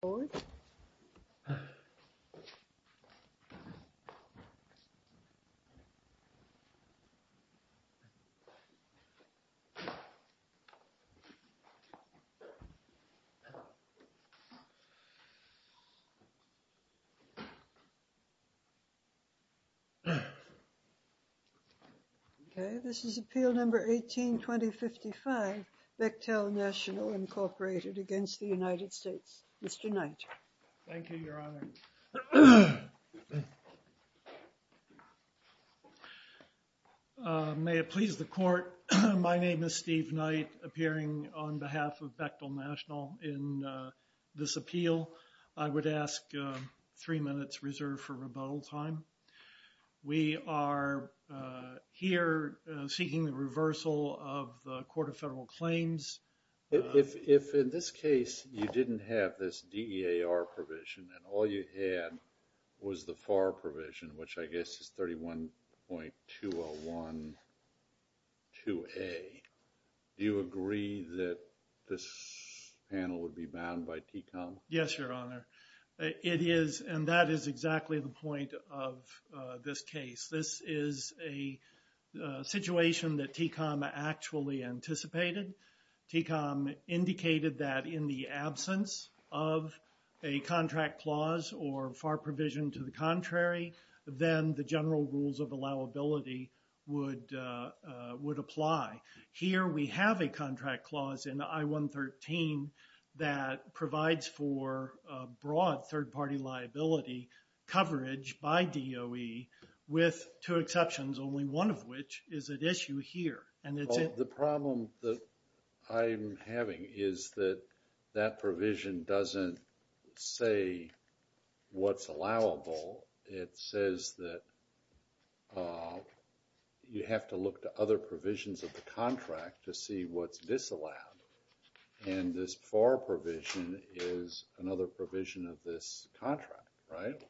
Mr. Norris, please come forward. This is Appeal No. 18-2055, Bechtel National, Inc. v. United States Mr. Knight. Thank you, Your Honor. May it please the Court, my name is Steve Knight, appearing on behalf of Bechtel National in this appeal. I would ask three minutes reserved for rebuttal time. We are here seeking the reversal of the Court of Federal Claims. If in this case you didn't have this DEAR provision and all you had was the FAR provision, which I guess is 31.2012A, do you agree that this panel would be bound by TCOM? Yes, Your Honor. It is, and that is exactly the point of this case. This is a situation that indicated that in the absence of a contract clause or FAR provision to the contrary, then the general rules of allowability would apply. Here we have a contract clause in I-113 that provides for broad third-party liability coverage by DOE with two exceptions, only one of which is at issue here. Well, the problem that I'm having is that that provision doesn't say what's allowable. It says that you have to look to other provisions of the contract to see what's disallowed. And this FAR provision is another provision of this contract, right?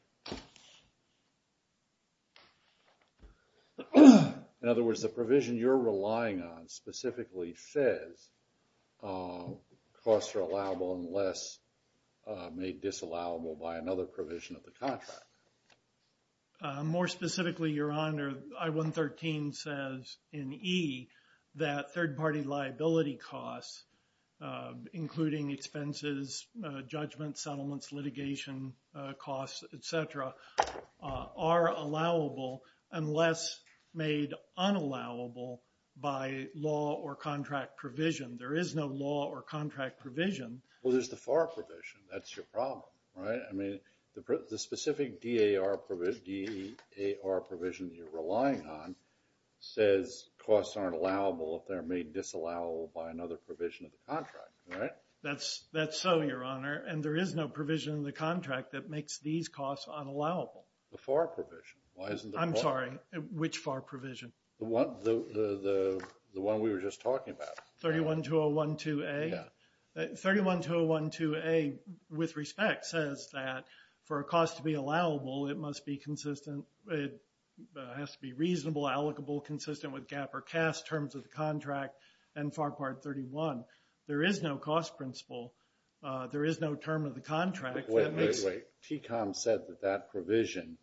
In other words, the provision you're relying on specifically says costs are allowable unless made disallowable by another provision of the contract. More specifically, Your Honor, I-113 says in E that third-party liability costs, including expenses, judgments, settlements, litigation costs, etc., are allowable unless made unallowable by law or contract provision. There is no law or contract provision. Well, there's the FAR provision. That's your problem, right? I mean, the specific DAR provision you're relying on says costs aren't allowable if they're made disallowable by another provision of the contract, right? That's so, Your Honor, and there is no provision in the contract that which FAR provision? The one we were just talking about. 312012A? Yeah. 312012A, with respect, says that for a cost to be allowable, it must be consistent. It has to be reasonable, allocable, consistent with GAAP or CAST terms of the contract and FAR Part 31. There is no cost principle. There is no term of the contract. Wait, wait, wait. TCOM said that provision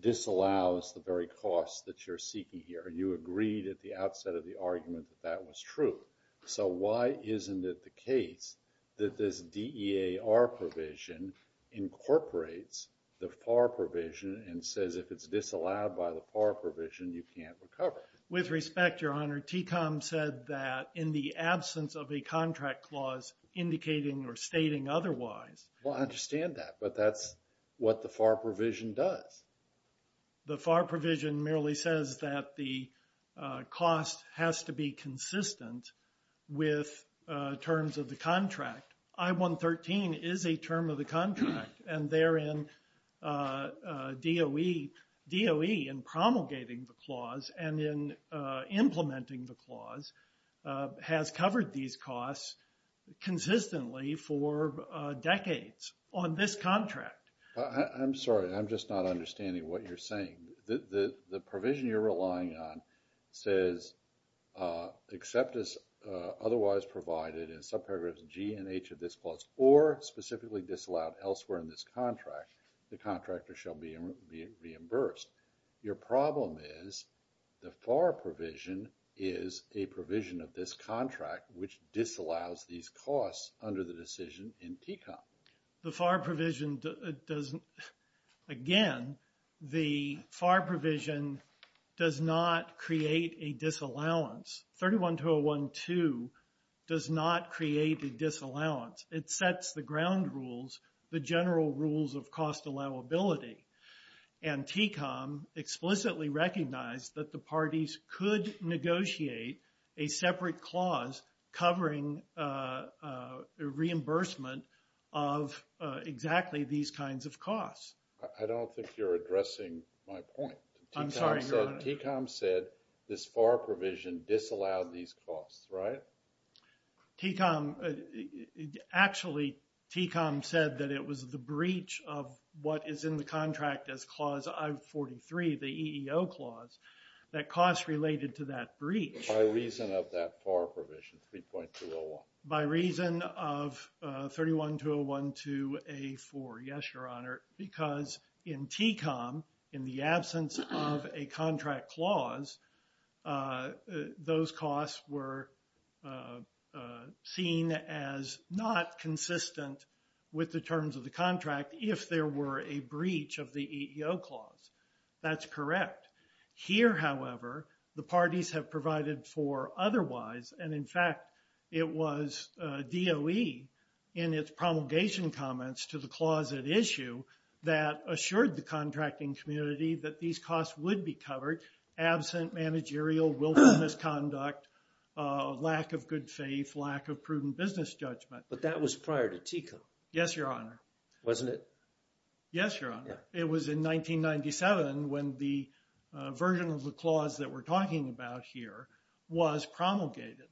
disallows the very cost that you're seeking here. You agreed at the outset of the argument that that was true. So why isn't it the case that this DEAR provision incorporates the FAR provision and says if it's disallowed by the FAR provision, you can't recover? With respect, Your Honor, TCOM said that in the absence of a contract clause indicating or what the FAR provision does. The FAR provision merely says that the cost has to be consistent with terms of the contract. I-113 is a term of the contract, and therein DOE in promulgating the clause and in implementing the clause has covered these costs consistently for decades on this contract. I'm sorry, I'm just not understanding what you're saying. The provision you're relying on says except as otherwise provided in subparagraphs G and H of this clause or specifically disallowed elsewhere in this contract, the contractor shall be reimbursed. Your problem is the FAR provision is a provision of this contract which disallows these costs under the decision in TCOM. The FAR provision does, again, the FAR provision does not create a disallowance. I-3122 does not create a disallowance. It sets the ground rules, the general rules of cost allowability. And TCOM explicitly recognized that the parties could negotiate a separate clause covering reimbursement of exactly these kinds of costs. I don't think you're addressing my point. I'm sorry, your honor. TCOM said this FAR provision disallowed these costs, right? TCOM, actually TCOM said that it was the breach of what is in the contract as clause I-43, the EEO clause, that costs related to that breach. By reason of that FAR provision 3.201. By reason of 31.201 to A-4, yes, your honor. Because in TCOM, in the absence of a contract clause, those costs were seen as not consistent with the terms of the contract if there were a breach of the EEO clause. That's correct. Here, however, the parties have provided for otherwise. And in fact, it was DOE in its promulgation comments to the clause at issue that assured the contracting community that these costs would be covered absent managerial willful misconduct, lack of good faith, lack of prudent business judgment. But that was prior to TCOM. Yes, your honor. Wasn't it? Yes, your honor. It was in 1997 when the version of the clause that we're talking about here was promulgated.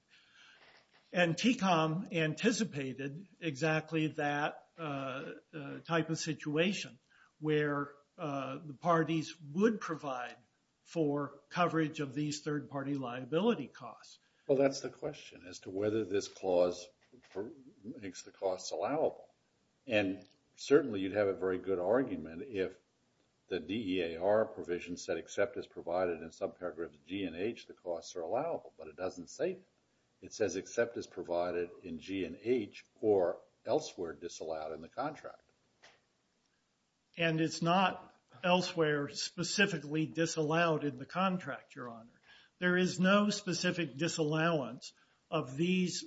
And TCOM anticipated exactly that type of situation where the parties would provide for coverage of these third party liability costs. Well, that's the question as to whether this clause makes the costs allowable. And certainly, you'd have a very good argument if the DEAR provision said, except as provided in subparagraphs G and H, the costs are allowable. But it doesn't say that. It says except as provided in G and H or elsewhere disallowed in the contract. And it's not elsewhere specifically disallowed in the contract, your honor. There is no specific disallowance of these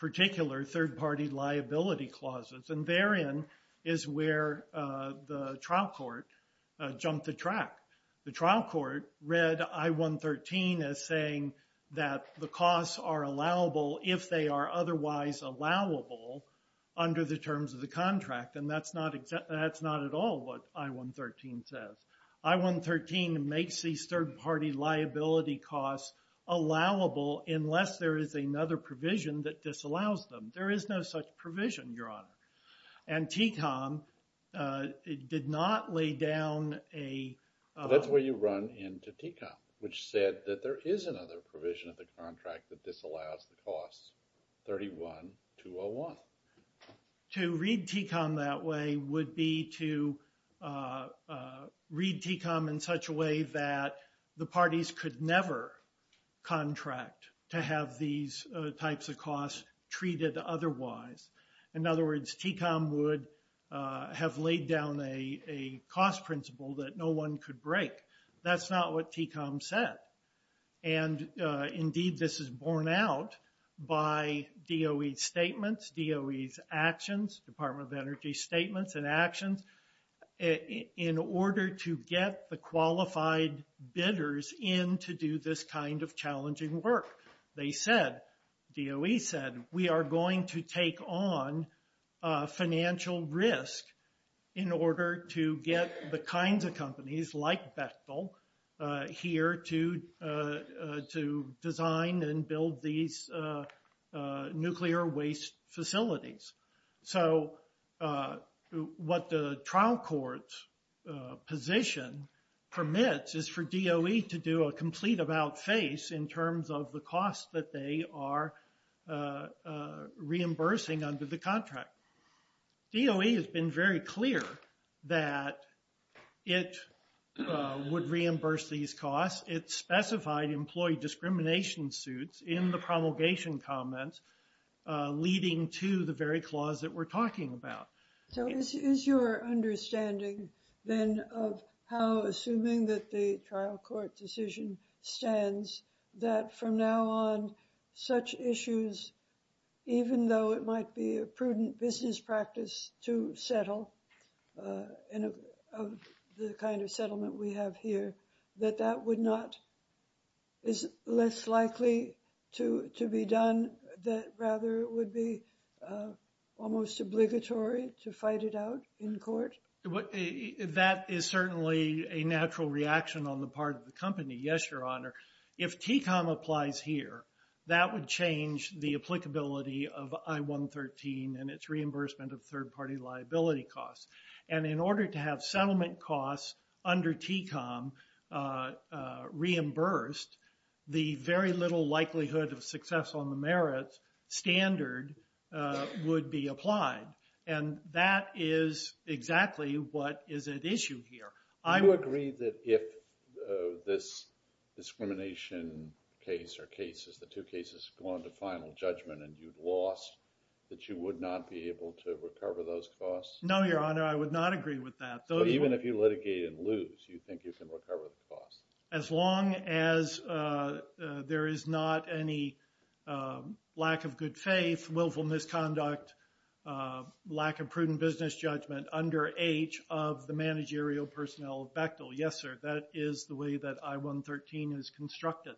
particular third party liability clauses. And therein is where the trial court jumped the track. The trial court read I-113 as saying that the costs are allowable if they are otherwise allowable under the terms of the contract. And that's not at all what I-113 says. I-113 makes these third party liability costs allowable unless there is another provision that disallows them. There is no such provision, your honor. And TCOM did not lay down a... That's where you run into TCOM, which said that there is another provision of the contract that disallows the costs, 31-201. To read TCOM that way would be to read TCOM in such a way that the parties could never contract to have these types of costs treated otherwise. In other words, TCOM would have laid down a cost principle that no one could break. That's not what TCOM said. And indeed, this is borne out by DOE's statements, DOE's actions, Department of Energy's statements and actions in order to get the qualified bidders in to do this kind of challenging work. They said, DOE said, we are going to take on financial risk in order to get the kinds of companies like Bechtel here to design and build these nuclear waste facilities. So what the trial court's position permits is for DOE to do a complete about-face in terms of the cost that they are reimbursing under the contract. DOE has been very clear that it would reimburse these costs. It specified employee discrimination suits in the promulgation comments leading to the very clause that we're talking about. So is your understanding then of how, assuming that the trial court decision stands, that from now on, such issues, even though it might be a prudent business practice to settle in a, of the kind of settlement we have here, that that would not, is less likely to be done, that rather it would be almost obligatory to fight it out in court? That is certainly a natural reaction on the part of the company. Yes, Your Honor. If TCOM applies here, that would change the applicability of I-113 and its reimbursement of third-party liability costs. And in order to have settlement costs under TCOM reimbursed, the very little likelihood of success on the merits standard would be applied. And that is exactly what is at issue here. Do you agree that if this discrimination case or cases, the two cases go on to final judgment and you've lost, that you would not be able to recover those costs? No, Your Honor. I would not agree with that. Even if you litigate and lose, you think you can recover the costs? As long as there is not any lack of good faith, willful misconduct, lack of prudent business judgment under age of the managerial personnel of Bechtel. Yes, sir. That is the way that I-113 is constructed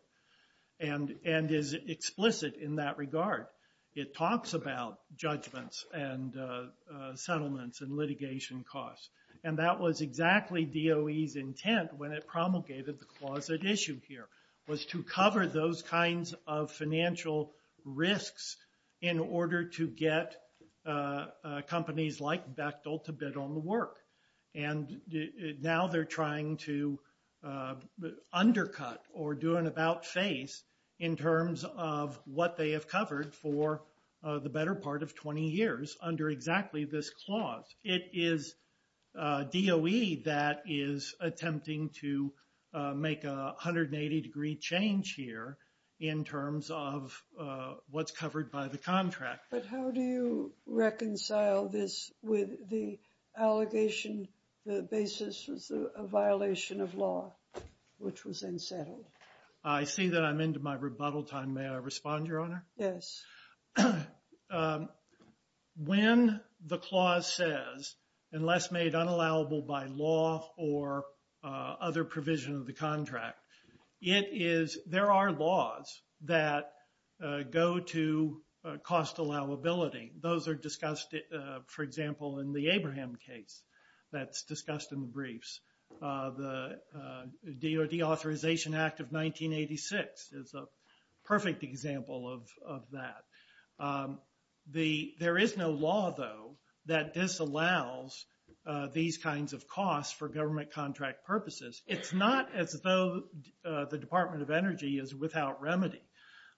and is explicit in that regard. It talks about judgments and settlements and litigation costs. And that was exactly DOE's intent when it promulgated the clause at issue here, was to cover those kinds of financial risks in order to get companies like Bechtel to bid on the work. And now they're trying to undercut or do an about face in terms of what they have covered for the better part of 20 years under exactly this clause. It is DOE that is attempting to make a 180-degree change here in terms of what's covered by the contract. But how do you reconcile this with the allegation the basis was a violation of law, which was unsettled? I see that I'm into my rebuttal time. May I respond, Your Honor? Yes. So when the clause says, unless made unallowable by law or other provision of the contract, there are laws that go to cost allowability. Those are discussed, for example, in the Abraham case that's discussed in the briefs. The Deauthorization Act of 1986 is a perfect example of that. There is no law, though, that disallows these kinds of costs for government contract purposes. It's not as though the Department of Energy is without remedy.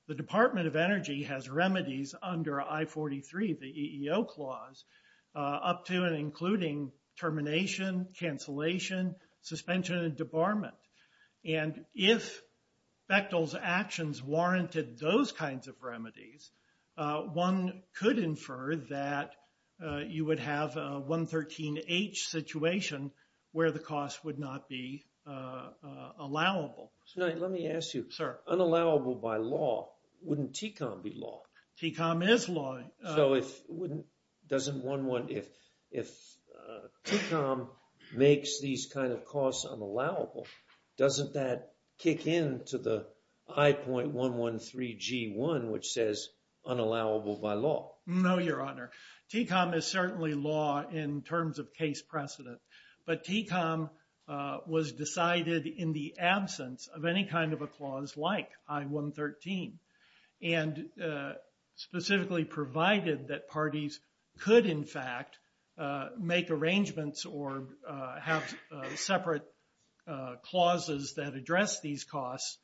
The Department of Energy has remedies under I-43, the EEO clause, up to and including termination, cancellation, suspension, and debarment. And if Bechtel's actions warranted those kinds of remedies, one could infer that you would have a 113H situation where the cost would not be allowable. So let me ask you, unallowable by law, wouldn't TECOM be law? TECOM is law. So if TECOM makes these kinds of costs unallowable, doesn't that kick in to the I-113G1, which says unallowable by law? No, Your Honor. TECOM is certainly law in terms of case precedent. But TECOM was decided in the absence of any kind of a clause like I-113, and specifically provided that parties could, in fact, make arrangements or have separate clauses that address these costs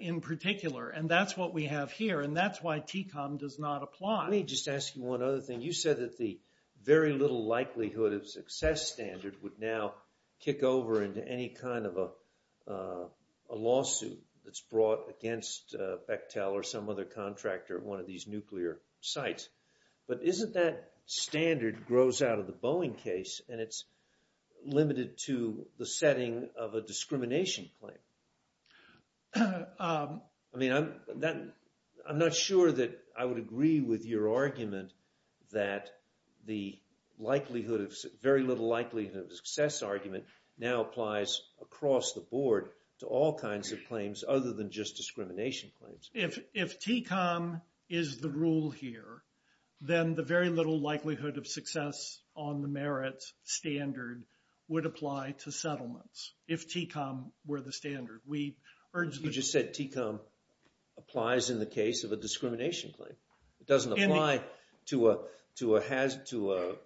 in particular. And that's what we have here. And that's why TECOM does not apply. Let me just ask you one other thing. You said that the very little likelihood of success standard would now kick over into any kind of a lawsuit that's brought against Bechtel or some other contractor at one of these nuclear sites. But isn't that standard grows out of the Boeing case? And it's limited to the setting of a discrimination claim. I mean, I'm not sure that I would agree with your argument that the likelihood, very little likelihood of success argument now applies across the board to all kinds of claims other than just discrimination claims. If TECOM is the rule here, then the very little likelihood of success on the merits standard would apply to settlements if TECOM were the standard. We urge that- You just said TECOM applies in the case of a discrimination claim. It doesn't apply to an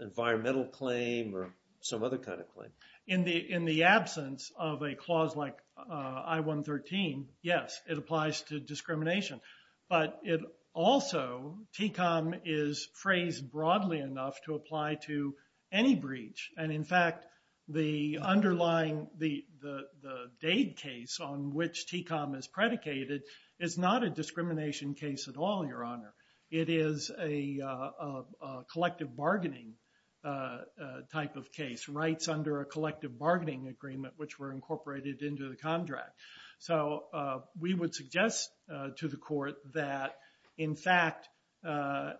environmental claim or some other kind of claim. In the absence of a clause like I-113, yes, it applies to discrimination. But it also, TECOM is phrased broadly enough to apply to any breach. And in fact, the underlying, the Dade case on which TECOM is predicated is not a discrimination case at all, Your Honor. It is a collective bargaining type of case, rights under a collective bargaining agreement, which were incorporated into the contract. So we would suggest to the court that, in fact,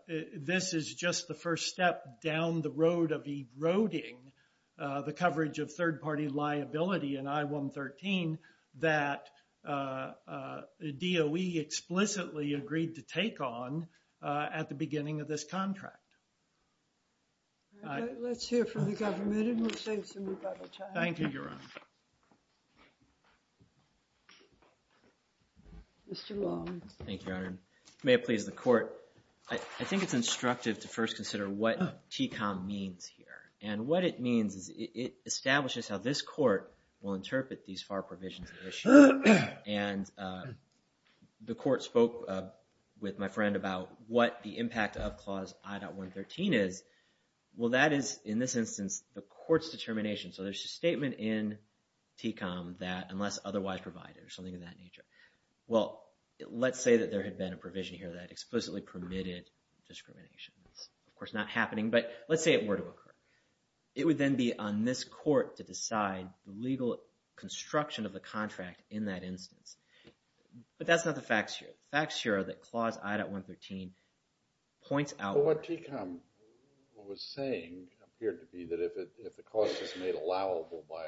this is just the first step down the road of eroding the coverage of third-party liability in I-113 that DOE explicitly agreed to take on at the beginning of this contract. All right, let's hear from the government and we'll save some rebuttal time. Thank you, Your Honor. Mr. Long. Thank you, Your Honor. May it please the court. I think it's instructive to first consider what TECOM means here. And what it means is it establishes how this court will interpret these FAR provisions of the issue. And the court spoke with my friend about what the impact of Clause I.113 is. Well, that is, in this instance, the court's determination. So there's a statement in TECOM that, unless otherwise provided, or something of that nature. Well, let's say that there had been a provision here that explicitly permitted discrimination. That's, of course, not happening. But let's say it were to occur. It would then be on this court to decide the legal construction of the contract in that instance. But that's not the facts here. The facts here are that Clause I.113 points out... ...allowable by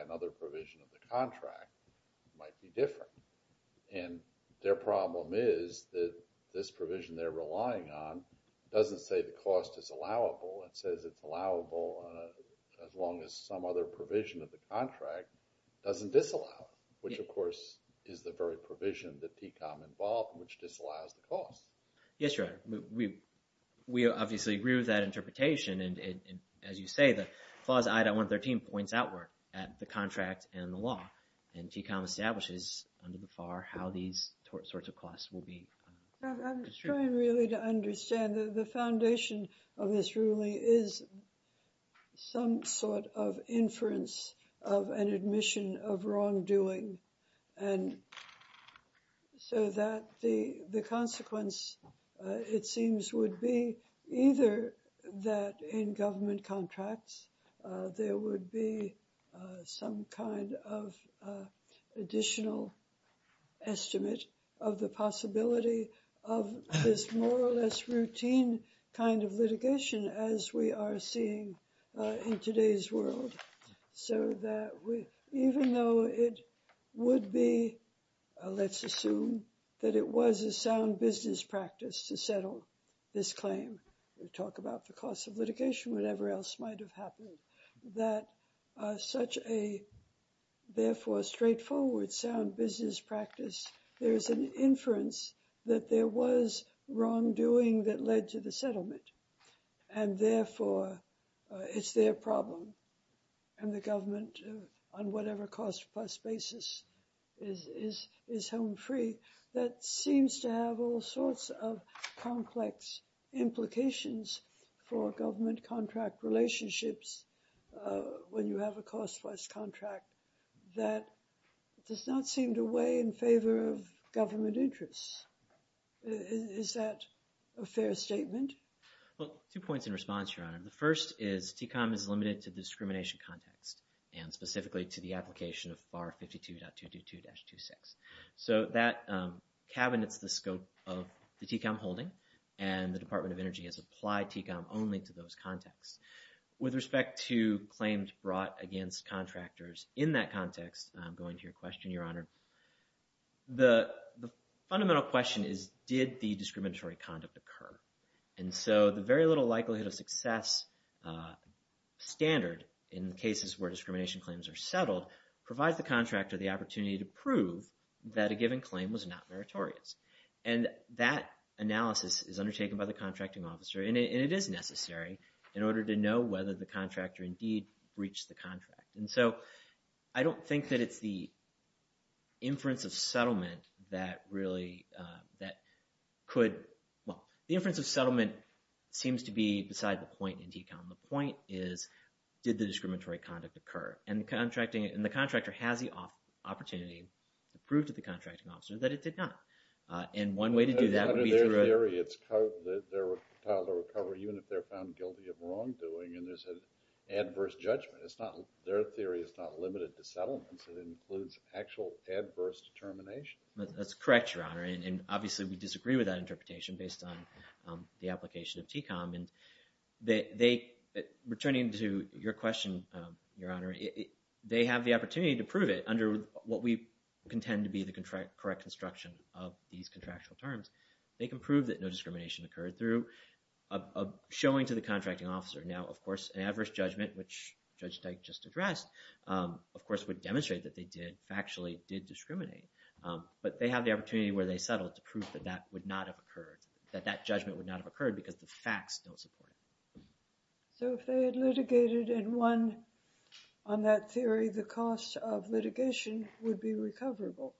another provision of the contract might be different. And their problem is that this provision they're relying on doesn't say the cost is allowable. It says it's allowable as long as some other provision of the contract doesn't disallow it. Which, of course, is the very provision that TECOM involved, which disallows the cost. Yes, Your Honor. We obviously agree with that interpretation. As you say, the Clause I.113 points outward at the contract and the law. And TECOM establishes under the FAR how these sorts of costs will be... I'm trying really to understand. The foundation of this ruling is some sort of inference of an admission of wrongdoing. And so that the consequence, it seems, would be either that in government contracts, there would be some kind of additional estimate of the possibility of this more or less routine kind of litigation as we are seeing in today's world. So that even though it would be, let's assume that it was a sound business practice to settle this claim, talk about the cost of litigation, whatever else might have happened, that such a therefore straightforward sound business practice, there is an inference that there was wrongdoing that led to the settlement. And therefore, it's their problem. And the government, on whatever cost plus basis, is home free. That seems to have all sorts of complex implications for government contract relationships when you have a cost-wise contract that does not seem to weigh in favor of government interests. Is that a fair statement? Well, two points in response, Your Honor. The first is TECOM is limited to the discrimination context and specifically to the application of FAR 52.222-26. So that cabinets the scope of the TECOM holding and the Department of Energy has applied TECOM only to those contexts. With respect to claims brought against contractors in that context, I'm going to your question, Your Honor. The fundamental question is, did the discriminatory conduct occur? And so the very little likelihood of success standard in cases where discrimination claims are settled provides the contractor the opportunity to prove that a given claim was not meritorious. And that analysis is undertaken by the contracting officer, and it is necessary in order to know whether the contractor indeed breached the contract. And so I don't think that it's the inference of settlement that really, that could, well, the inference of settlement seems to be beside the point in TECOM. The point is, did the discriminatory conduct occur? And the contracting, and the contractor has the opportunity to prove to the contracting officer that it did not. And one way to do that would be through a- Under their theory, it's, they're entitled to a recovery even if they're found guilty of wrongdoing and there's an adverse judgment. It's not, their theory is not limited to settlements. It includes actual adverse determination. That's correct, Your Honor. And obviously we disagree with that interpretation based on the application of TECOM. And they, returning to your question, Your Honor, they have the opportunity to prove it under what we contend to be the correct construction of these contractual terms. They can prove that no discrimination occurred through a showing to the contracting officer. Now, of course, an adverse judgment, which Judge Dyke just addressed, of course, would demonstrate that they did, factually did discriminate. But they have the opportunity where they settled to prove that that would not have occurred, that that judgment would not have occurred because the facts don't support it. So if they had litigated and won on that theory, the cost of litigation would be recoverable?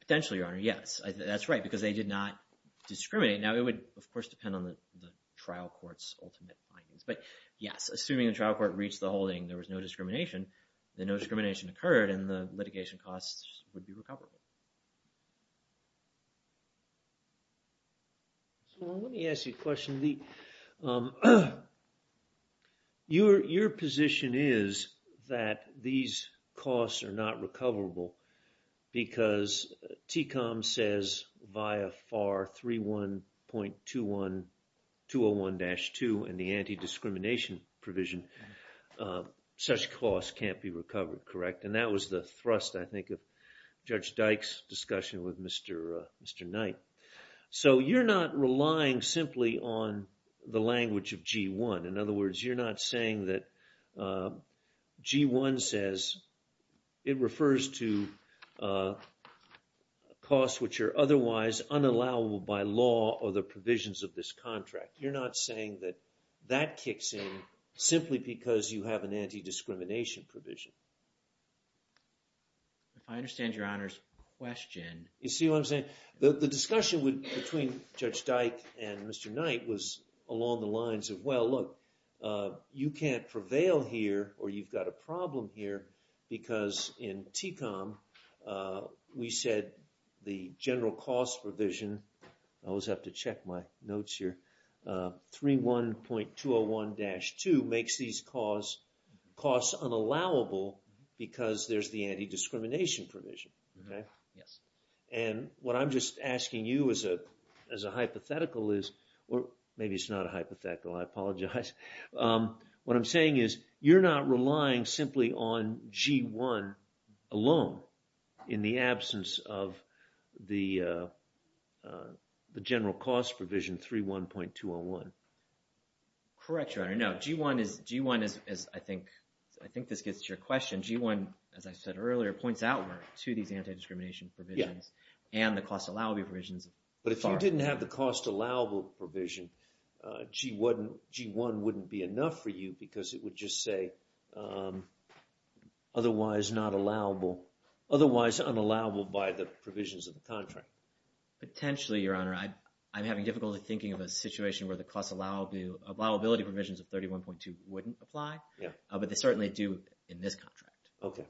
Potentially, Your Honor, yes. That's right, because they did not discriminate. Now, it would, of course, depend on the trial court's ultimate findings. But yes, assuming the trial court reached the holding, there was no discrimination, then no discrimination occurred and the litigation costs would be recoverable. So let me ask you a question. Your position is that these costs are not recoverable because TCOM says via FAR 31.201-2 in the anti-discrimination provision such costs can't be recovered, correct? And that was the thrust, I think, of Judge Dyke's discussion with Mr. Knight. So you're not relying simply on the language of G1. In other words, you're not saying that G1 says it refers to costs which are otherwise unallowable by law or the provisions of this contract. You're not saying that that kicks in simply because you have an anti-discrimination provision. If I understand Your Honor's question... You see what I'm saying? The discussion between Judge Dyke and Mr. Knight was along the lines of, well, look, you can't prevail here or you've got a problem here because in TCOM we said the general cost provision, I always have to check my notes here, 31.201-2 makes these costs unallowable because there's the anti-discrimination provision. And what I'm just asking you as a hypothetical is, or maybe it's not a hypothetical, I apologize. What I'm saying is you're not relying simply on G1 alone in the absence of the general cost provision 31.201. Correct, Your Honor. No, G1 is, I think this gets to your question, G1, as I said earlier, points outward to these anti-discrimination provisions and the cost allowable provisions. But if you didn't have the cost allowable provision, G1 wouldn't be enough for you because it would just say otherwise not allowable, otherwise unallowable by the provisions of the contract. Potentially, Your Honor. I'm having difficulty thinking of a situation where the cost allowability provisions of 31.201 wouldn't apply, but they certainly do in this contract. Okay.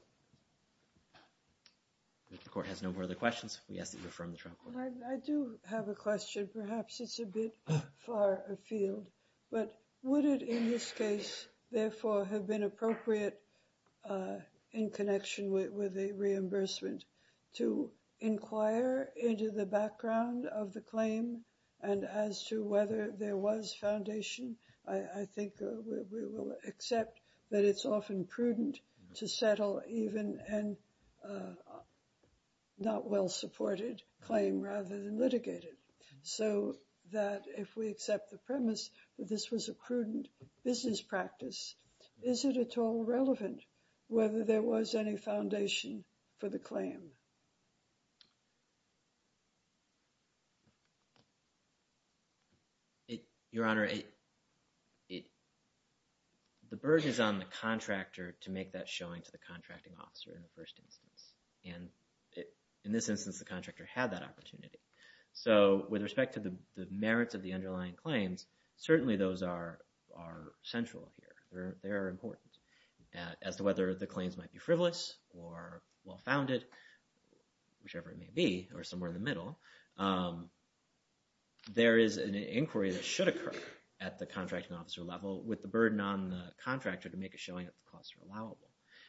If the court has no further questions, we ask that you affirm the trial court. I do have a question. Perhaps it's a bit far afield, but would it in this case, therefore, have been appropriate in connection with a reimbursement to inquire into the background of the claim and as to whether there was foundation? I think we will accept that it's often prudent to settle even an not well-supported claim rather than litigated. So that if we accept the premise that this was a prudent business practice, whether there was any foundation for the claim? Your Honor, the burden is on the contractor to make that showing to the contracting officer in the first instance. And in this instance, the contractor had that opportunity. So with respect to the merits of the underlying claims, certainly those are central here. They are important as to whether the claims might be frivolous or well-founded, whichever it may be, or somewhere in the middle. There is an inquiry that should occur at the contracting officer level with the burden on the contractor to make a showing that the costs are allowable.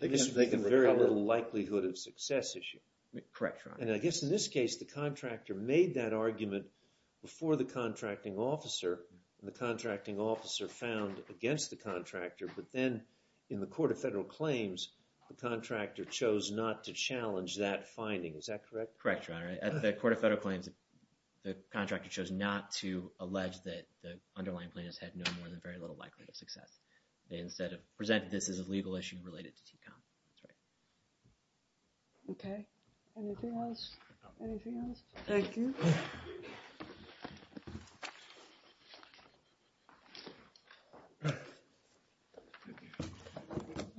They can make a very little likelihood of success issue. Correct, Your Honor. And I guess in this case, the contractor made that argument before the contracting officer and the contracting officer found against the contractor. But then in the Court of Federal Claims, the contractor chose not to challenge that finding. Is that correct? Correct, Your Honor. At the Court of Federal Claims, the contractor chose not to allege that the underlying plaintiffs had no more than very little likelihood of success. They instead have presented this as a legal issue related to TCOM. That's right. Okay. Anything else? Anything else? Thank you.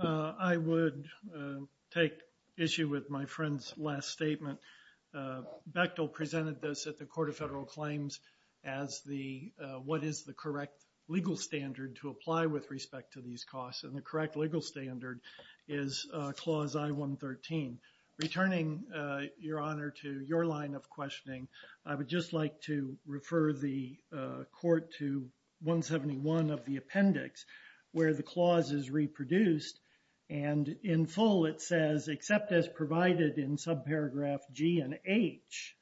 I would take issue with my friend's last statement. Bechtel presented this at the Court of Federal Claims as what is the correct legal standard to apply with respect to these costs. And the correct legal standard is Clause I-113. Returning, Your Honor, to your line of questioning, I would just like to refer the Court to 171 of the appendix where the clause is reproduced. And in full, it says, except as provided in subparagraph G and H,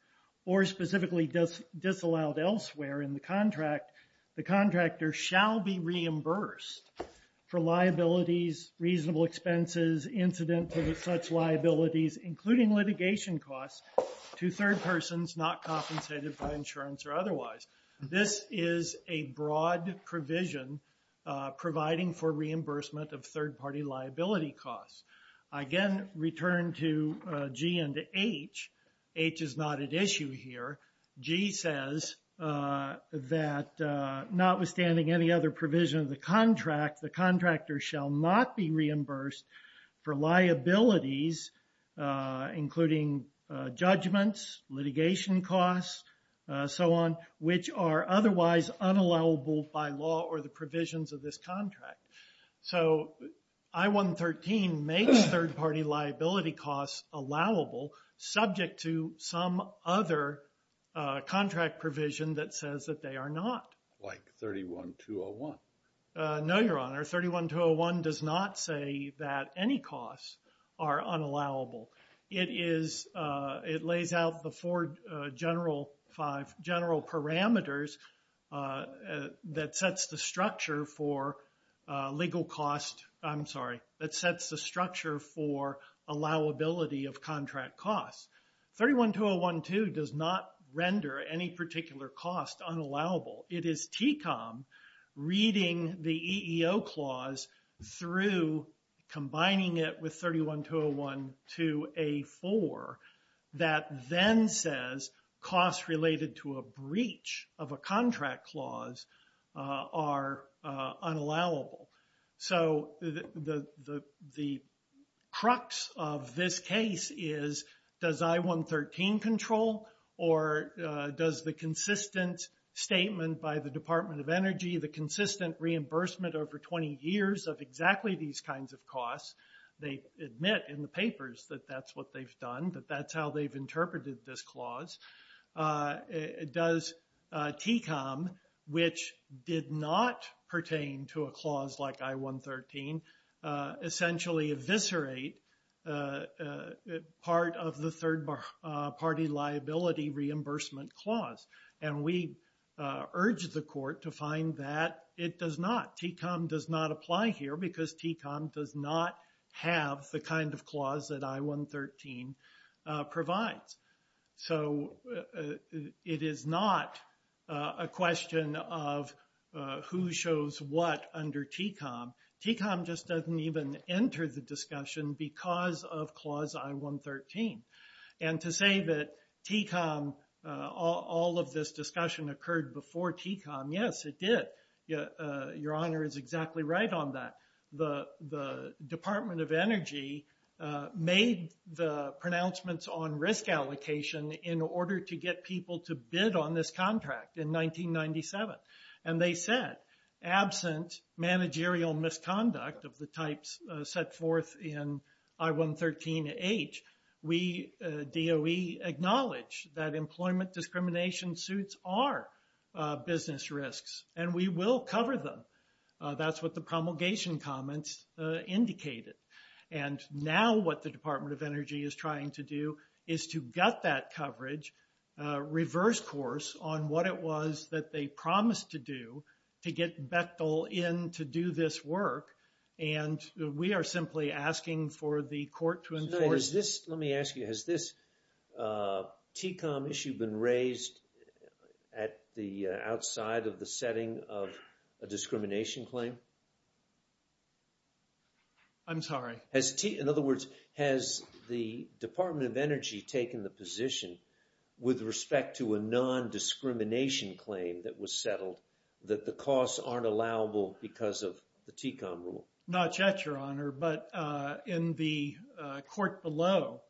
or specifically disallowed elsewhere in the contract, the contractor shall be reimbursed for liabilities, reasonable expenses, incident to such liabilities, including litigation costs to third persons not compensated by insurance or otherwise. This is a broad provision providing for reimbursement of third-party liability costs. I again return to G and to H. H is not at issue here. G says that notwithstanding any other provision of the contract, the contractor shall not be reimbursed for liabilities, including judgments, litigation costs, so on, which are otherwise unallowable by law or the provisions of this contract. So I-113 makes third-party liability costs allowable subject to some other contract provision that says that they are not. Like 31-201. No, Your Honor. 31-201 does not say that any costs are unallowable. It lays out the four general parameters that sets the structure for legal cost. I'm sorry, that sets the structure for allowability of contract costs. 31-201-2 does not render any particular cost unallowable. It is TCOM reading the EEO clause through combining it with 31-201-2A-4 that then says costs related to a breach of a contract clause are unallowable. So the crux of this case is, does I-113 control or does the consistent statement by the Department of Energy, the consistent reimbursement over 20 years of exactly these kinds of costs, they admit in the papers that that's what they've done, that that's how they've interpreted this clause, does TCOM, which did not pertain to a clause like I-113, essentially eviscerate part of the third party liability reimbursement clause? And we urge the court to find that it does not. TCOM does not apply here because TCOM does not have the kind of clause that I-113 provides. So it is not a question of who shows what under TCOM. TCOM just doesn't even enter the discussion because of clause I-113. And to say that TCOM, all of this discussion occurred before TCOM, yes, it did. Your Honor is exactly right on that. The Department of Energy made the pronouncements on risk allocation in order to get people to bid on this contract in 1997. And they said, absent managerial misconduct of the types set forth in I-113H, we, DOE, acknowledge that employment discrimination suits are business risks and we will cover them. That's what the promulgation comments indicated. And now what the Department of Energy is trying to do is to gut that coverage, reverse course, on what it was that they promised to do to get Bechtel in to do this work. And we are simply asking for the court to enforce. Is this, let me ask you, has this TCOM issue been raised at the outside of the setting of a discrimination claim? I'm sorry. Has, in other words, has the Department of Energy taken the position with respect to a non-discrimination claim that was settled, that the costs aren't allowable because of the TCOM rule? Not yet, Your Honor. But in the court below,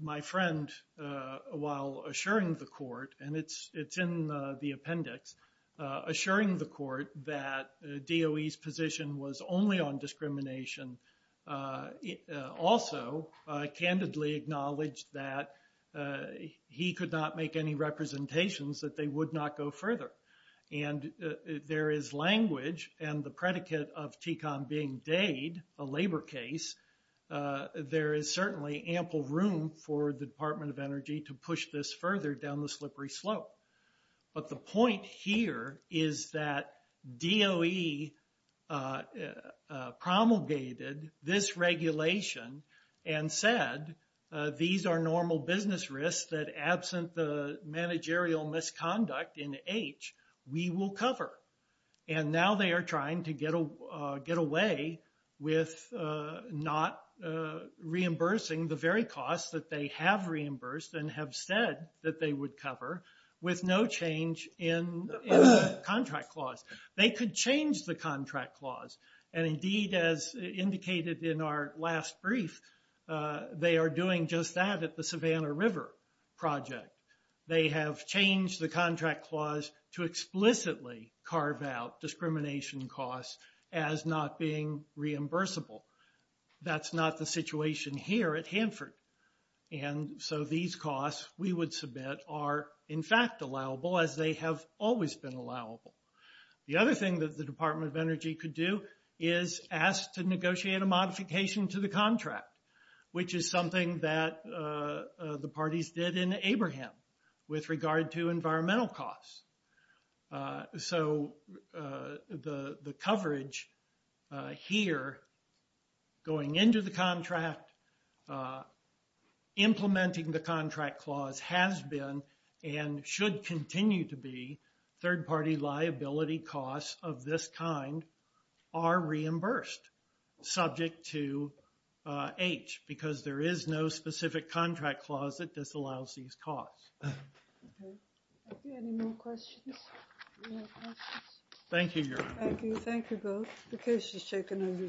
my friend, while assuring the court, and it's in the appendix, assuring the court that DOE's position was only on discrimination, also candidly acknowledged that he could not make any representations that they would not go further. And there is language and the predicate of TCOM being dade, a labor case, there is certainly ample room for the Department of Energy to push this further down the slippery slope. But the point here is that DOE promulgated this regulation and said these are normal business risks that absent the managerial misconduct in H, we will cover. And now they are trying to get away with not reimbursing the very costs that they have reimbursed and have said that they would cover with no change in the contract clause. They could change the contract clause. And indeed, as indicated in our last brief, they are doing just that at the Savannah River project. They have changed the contract clause to explicitly carve out discrimination costs as not being reimbursable. That's not the situation here at Hanford. And so these costs we would submit are in fact allowable as they have always been allowable. The other thing that the Department of Energy could do is ask to negotiate a modification to the contract, which is something that the parties did in Abraham with regard to environmental costs. So the coverage here, going into the contract, implementing the contract clause has been and should continue to be third party liability costs of this kind are reimbursed subject to H because there is no specific contract clause that disallows these costs. Okay, any more questions? Thank you, Your Honor. Thank you. Thank you both. The case is taken under submission.